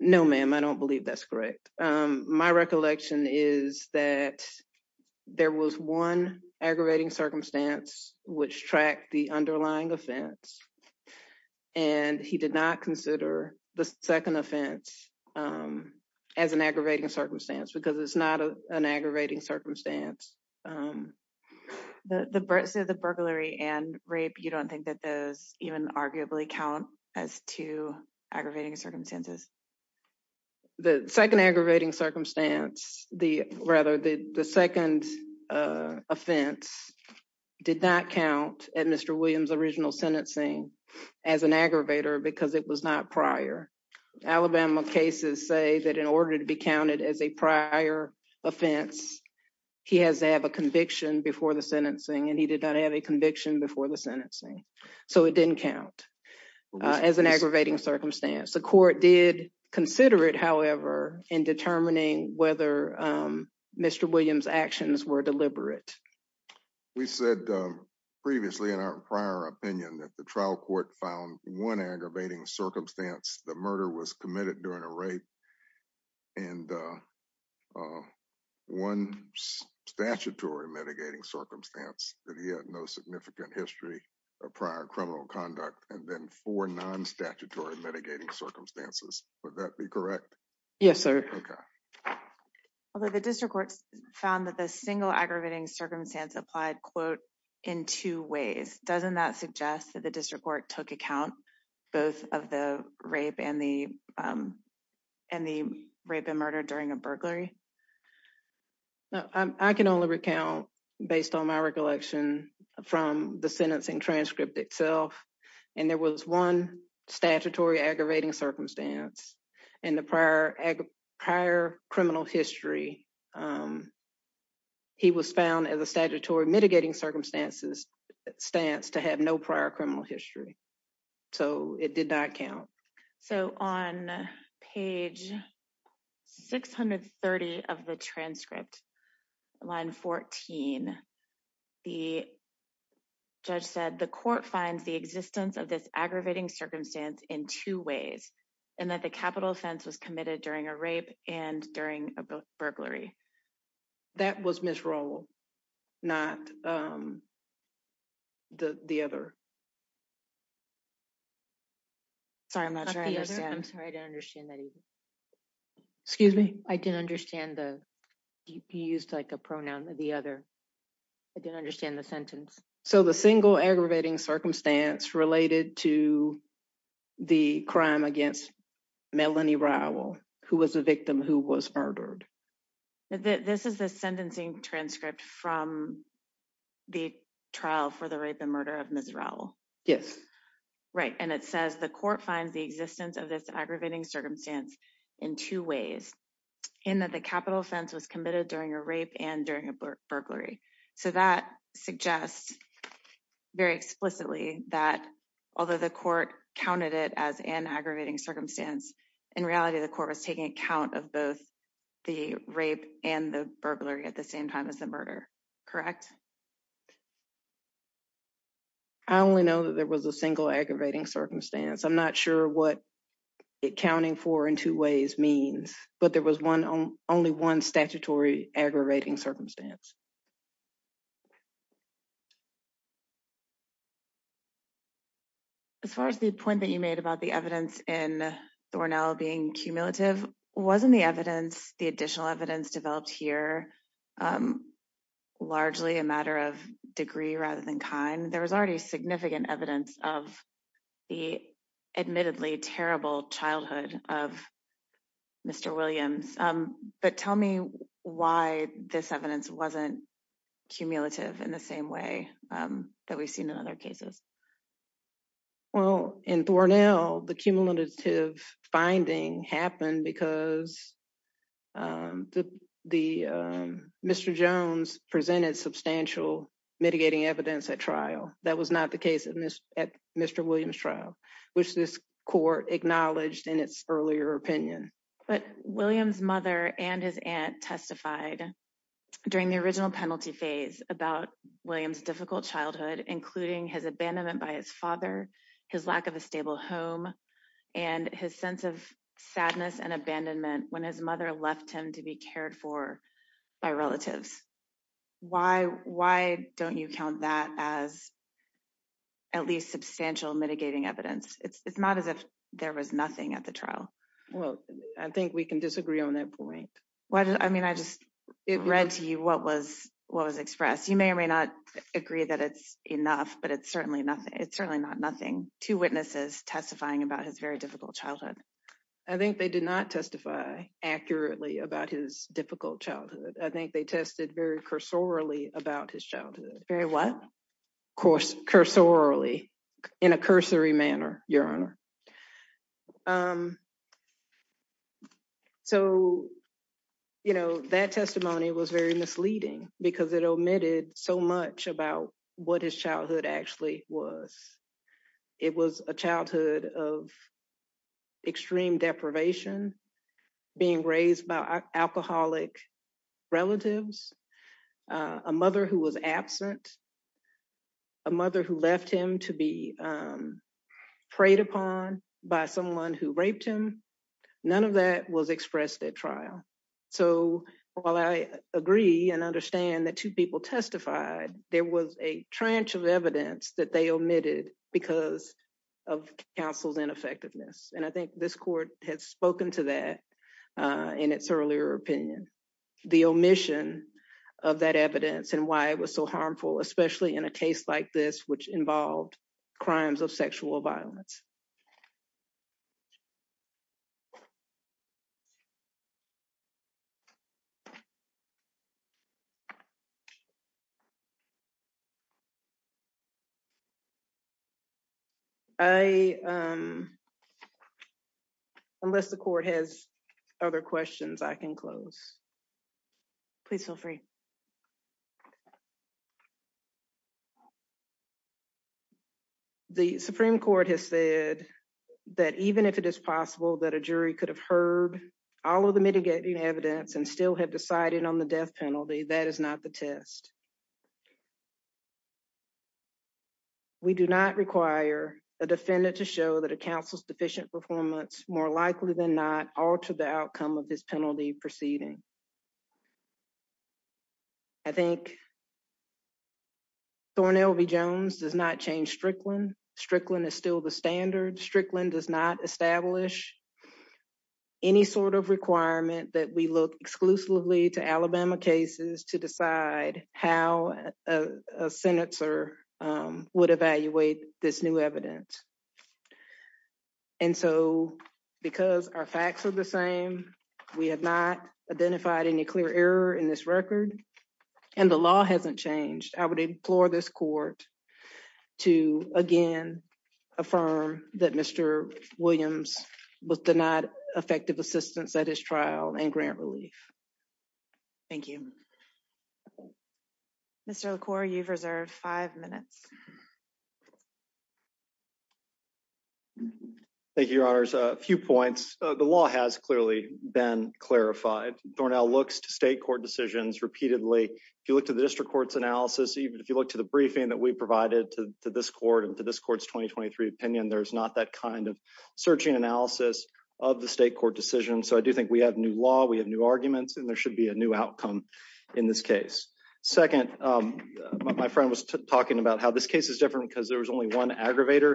No ma'am I don't believe that's correct. My recollection is that there was one aggravating circumstance, which track the underlying offense. And he did not consider the second offense as an aggravating circumstance because it's not an aggravating circumstance. The birds of the burglary and rape you don't think that those even arguably count as to aggravating circumstances. The second aggravating circumstance, the rather the second offense. Did not count at Mr. Williams original sentencing as an aggravator because it was not prior Alabama cases say that in order to be counted as a prior offense. He has to have a conviction before the sentencing and he did not have a conviction before the sentencing. So it didn't count as an aggravating circumstance the court did consider it however in determining whether Mr. Williams actions were deliberate. We said previously in our prior opinion that the trial court found one aggravating circumstance, the murder was committed during a rape. And one statutory mitigating circumstance that he had no significant history of prior criminal conduct, and then for non statutory mitigating circumstances, would that be correct. Yes, sir. Although the district courts found that the single aggravating circumstance applied quote, in two ways, doesn't that suggest that the district court took account, both of the rape and the, and the rape and murder during a burglary. I can only recount, based on my recollection from the sentencing transcript itself. And there was one statutory aggravating circumstance, and the prior, prior criminal history. He was found as a statutory mitigating circumstances stance to have no prior criminal history. So, it did not count. So on page 630 of the transcript line 14. The judge said the court finds the existence of this aggravating circumstance in two ways, and that the capital offense was committed during a rape, and during a burglary. That was miserable. the other. Sorry, I'm not sure I'm sorry I don't understand that. Excuse me, I didn't understand the DPS like a pronoun, the other. I didn't understand the sentence. So the single aggravating circumstance related to the crime against Melanie rival, who was a victim who was murdered. This is the sentencing transcript from the trial for the rape and murder of Miss Raul. Yes. Right, and it says the court finds the existence of this aggravating circumstance in two ways, and that the capital offense was committed during a rape and during a burglary. So that suggests very explicitly that, although the court counted it as an aggravating circumstance. In reality the court was taking account of both the rape and the burglary at the same time as the murder. I only know that there was a single aggravating circumstance I'm not sure what it counting for in two ways means, but there was one on only one statutory aggravating circumstance. Thank you. As far as the point that you made about the evidence in the Cornell being cumulative wasn't the evidence, the additional evidence developed here. Largely a matter of degree rather than kind, there was already significant evidence of the admittedly terrible childhood of Mr. Williams, but tell me why this evidence wasn't cumulative in the same way that we've seen in other cases. Well, in Cornell, the cumulative finding happened because the Mr. Jones presented substantial mitigating evidence at trial, that was not the case in this at Mr. Williams trial, which this court acknowledged in its earlier opinion. But Williams mother and his aunt testified during the original penalty phase about Williams difficult childhood, including his abandonment by his father, his lack of a stable home, and his sense of sadness and abandonment when his mother left him to be cared for by relatives. Why, why don't you count that as at least substantial mitigating evidence, it's not as if there was nothing at the trial. Well, I think we can disagree on that point. What I mean I just read to you what was what was expressed you may or may not agree that it's enough but it's certainly nothing it's certainly not nothing to witnesses testifying about his very difficult childhood. I think they did not testify accurately about his difficult childhood, I think they tested very cursorily about his childhood, very what course cursorily in a cursory manner, Your Honor. So, you know, that testimony was very misleading, because it omitted so much about what his childhood actually was. It was a childhood of extreme deprivation, being raised by alcoholic relatives, a mother who was absent, a mother who left him to be preyed upon by someone who raped him. None of that was expressed at trial. So, while I agree and understand that two people testified, there was a trench of evidence that they omitted because of counsel's ineffectiveness and I think this court has spoken to that. In its earlier opinion, the omission of that evidence and why it was so harmful, especially in a case like this which involved crimes of sexual violence. I unless the court has other questions I can close. Please feel free. The Supreme Court has said that even if it is possible that a jury could have heard all of the mitigating evidence and still have decided on the death penalty that is not the test. We do not require a defendant to show that a counsel's deficient performance, more likely than not, or to the outcome of this penalty proceeding. I think. Thornell v. Jones does not change Strickland. Strickland is still the standard. Strickland does not establish any sort of requirement that we look exclusively to Alabama cases to decide how a senator would evaluate this new evidence. And so, because our facts are the same. We have not identified any clear error in this record. And the law hasn't changed, I would implore this court to, again, affirm that Mr. Williams was denied effective assistance at his trial and grant relief. Thank you. Thank you. Mr core you've reserved five minutes. Thank you, Your Honors, a few points, the law has clearly been clarified for now looks to state court decisions repeatedly. If you look to the district courts analysis even if you look to the briefing that we provided to this court and to this court's 2023 opinion there's not that kind of searching analysis of the state court decision so I do think we have new law we have new arguments and there should be a new outcome in this case. Second, my friend was talking about how this case is different because there was only one aggravator,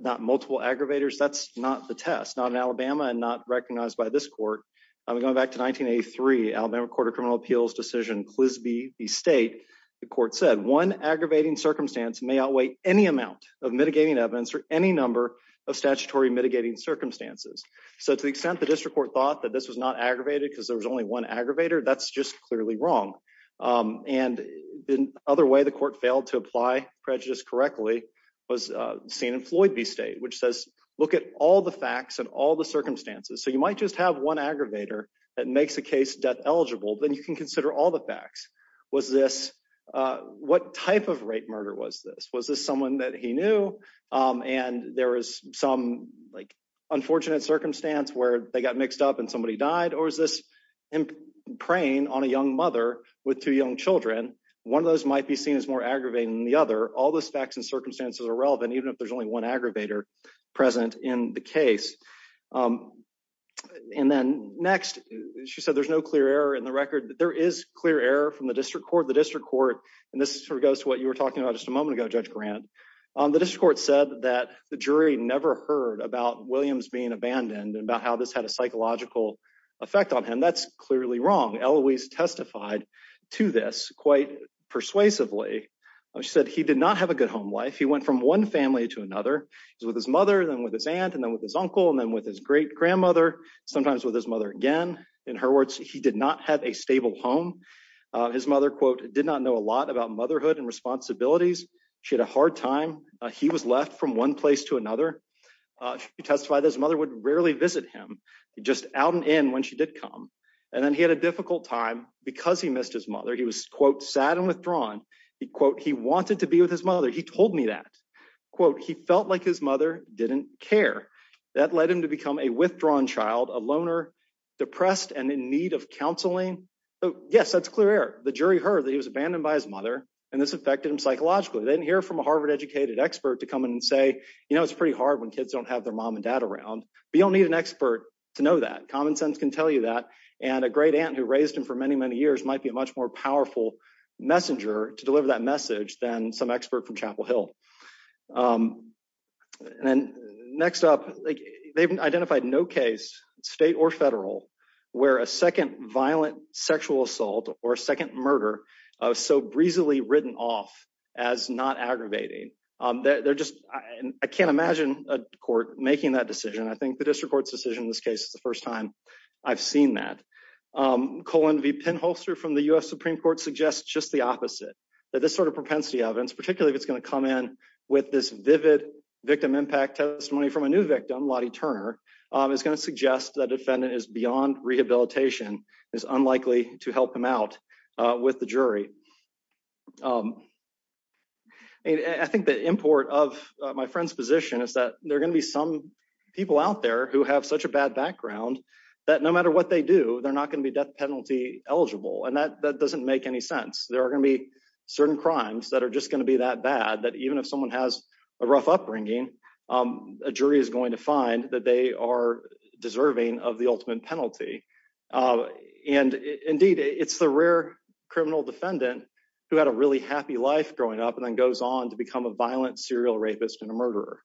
not multiple aggravators that's not the test not in Alabama and not recognized by this court. I'm going back to 1983 Alabama Court of Criminal Appeals decision was the state. The court said one aggravating circumstance may outweigh any amount of mitigating evidence or any number of statutory mitigating circumstances. So to the extent the district court thought that this was not aggravated because there was only one aggravator that's just clearly wrong. And the other way the court failed to apply prejudice correctly was seen in Floyd be state which says, look at all the facts and all the circumstances so you might just have one aggravator that makes a case death eligible then you can consider all the facts was this. What type of rape murder was this was this someone that he knew, and there was some like unfortunate circumstance where they got mixed up and somebody died or is this in praying on a young mother with two young children. One of those might be seen as more aggravating the other all the specs and circumstances are relevant even if there's only one aggravator present in the case. And then, next, she said there's no clear error in the record that there is clear error from the district court the district court, and this sort of goes to what you were talking about just a moment ago judge grant the discord said that the jury never heard about Williams being abandoned about how this had a psychological effect on him that's clearly wrong Eloise testified to this quite persuasively. She said he did not have a good home life he went from one family to another with his mother and then with his aunt and then with his uncle and then with his great grandmother, sometimes with his mother again in her words, he did not have a stable home. His mother quote did not know a lot about motherhood and responsibilities. She had a hard time. He was left from one place to another. He testified his mother would rarely visit him just out and in when she did come, and then he had a difficult time because he missed his mother he was quote sad and withdrawn. He quote he wanted to be with his mother he told me that quote he felt like his mother didn't care that led him to become a withdrawn child a loner depressed and in need of counseling. So, yes, that's clear the jury heard that he was abandoned by his mother, and this affected him psychologically didn't hear from a Harvard educated expert to come in and say, you know it's pretty hard when kids don't have their mom and dad around, but you'll need an expert to know that common sense can tell you that, and a great aunt who raised him for many, many years might be a much more powerful messenger to deliver that message than some expert from Chapel Hill. And then, next up, they've identified no case, state or federal, where a second violent sexual assault or second murder. So breezily written off as not aggravating that they're just, I can't imagine a court, making that decision I think the district Supreme Court's decision this case is the first time I've seen that colon V pinholster from the US Supreme Court suggests just the opposite, that this sort of propensity of and particularly if it's going to come in with this vivid victim impact testimony from a new victim Lottie Turner is going to suggest that defendant is beyond rehabilitation is unlikely to help him out with the jury. I think the import of my friend's position is that they're going to be some people out there who have such a bad background that no matter what they do, they're not going to be death penalty eligible and that that doesn't make any sense there are going to be certain people who are going to find that they are deserving of the ultimate penalty. And indeed, it's the rare criminal defendant who had a really happy life growing up and then goes on to become a violent serial rapist and a murderer.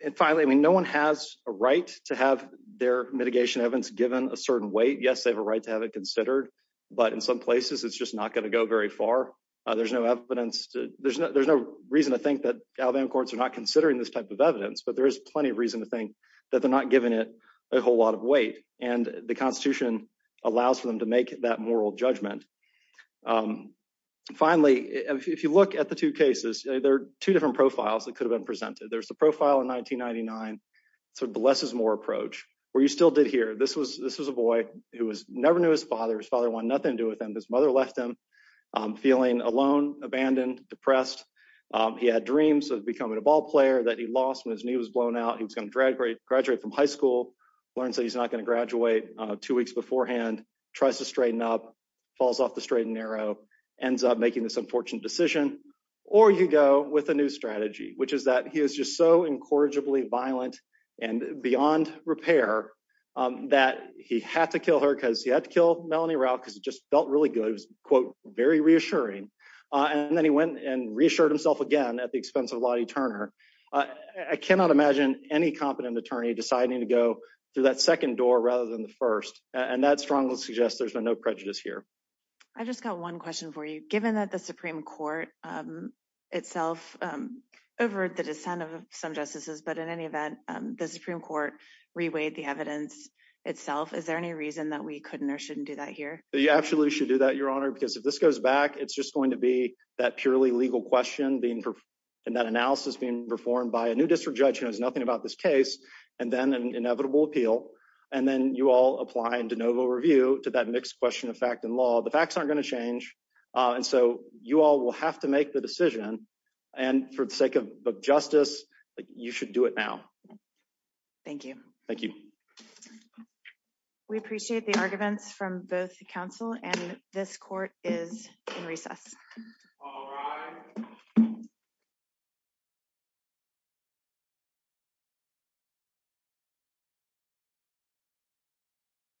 And finally, I mean no one has a right to have their mitigation evidence given a certain weight yes they have a right to have it considered, but in some places it's just not going to go very far. There's no evidence to there's no there's no reason to think that Alabama courts are not considering this type of evidence but there is plenty of reason to think that they're not giving it a whole lot of weight, and the Constitution allows them to make that moral judgment. Finally, if you look at the two cases, there are two different profiles that could have been presented there's the profile in 1999. So blesses more approach, where you still did here this was this was a boy who was never knew his father's father one nothing to do with them his mother left them feeling alone abandoned depressed. He had dreams of becoming a ballplayer that he lost when his knee was blown out he was going to graduate from high school, learn so he's not going to graduate, two weeks beforehand, tries to straighten up falls off the straight and narrow ends up making this decision, or you go with a new strategy, which is that he is just so incorrigibly violent and beyond repair that he had to kill her because he had to kill Melanie route because it just felt really good was quote, very reassuring. And then he went and reassured himself again at the expense of Lottie Turner. I cannot imagine any competent attorney deciding to go through that second door rather than the first, and that strongly suggest there's no prejudice here. I just got one question for you, given that the Supreme Court itself over the descent of some justices but in any event, the Supreme Court reweight the evidence itself Is there any reason that we couldn't or shouldn't do that here, you judge has nothing about this case, and then an inevitable appeal, and then you all apply and de novo review to that next question of fact and law the facts aren't going to change. And so, you all will have to make the decision. And for the sake of justice, you should do it now. Thank you. Thank you. We appreciate the arguments from both the council and this court is recess.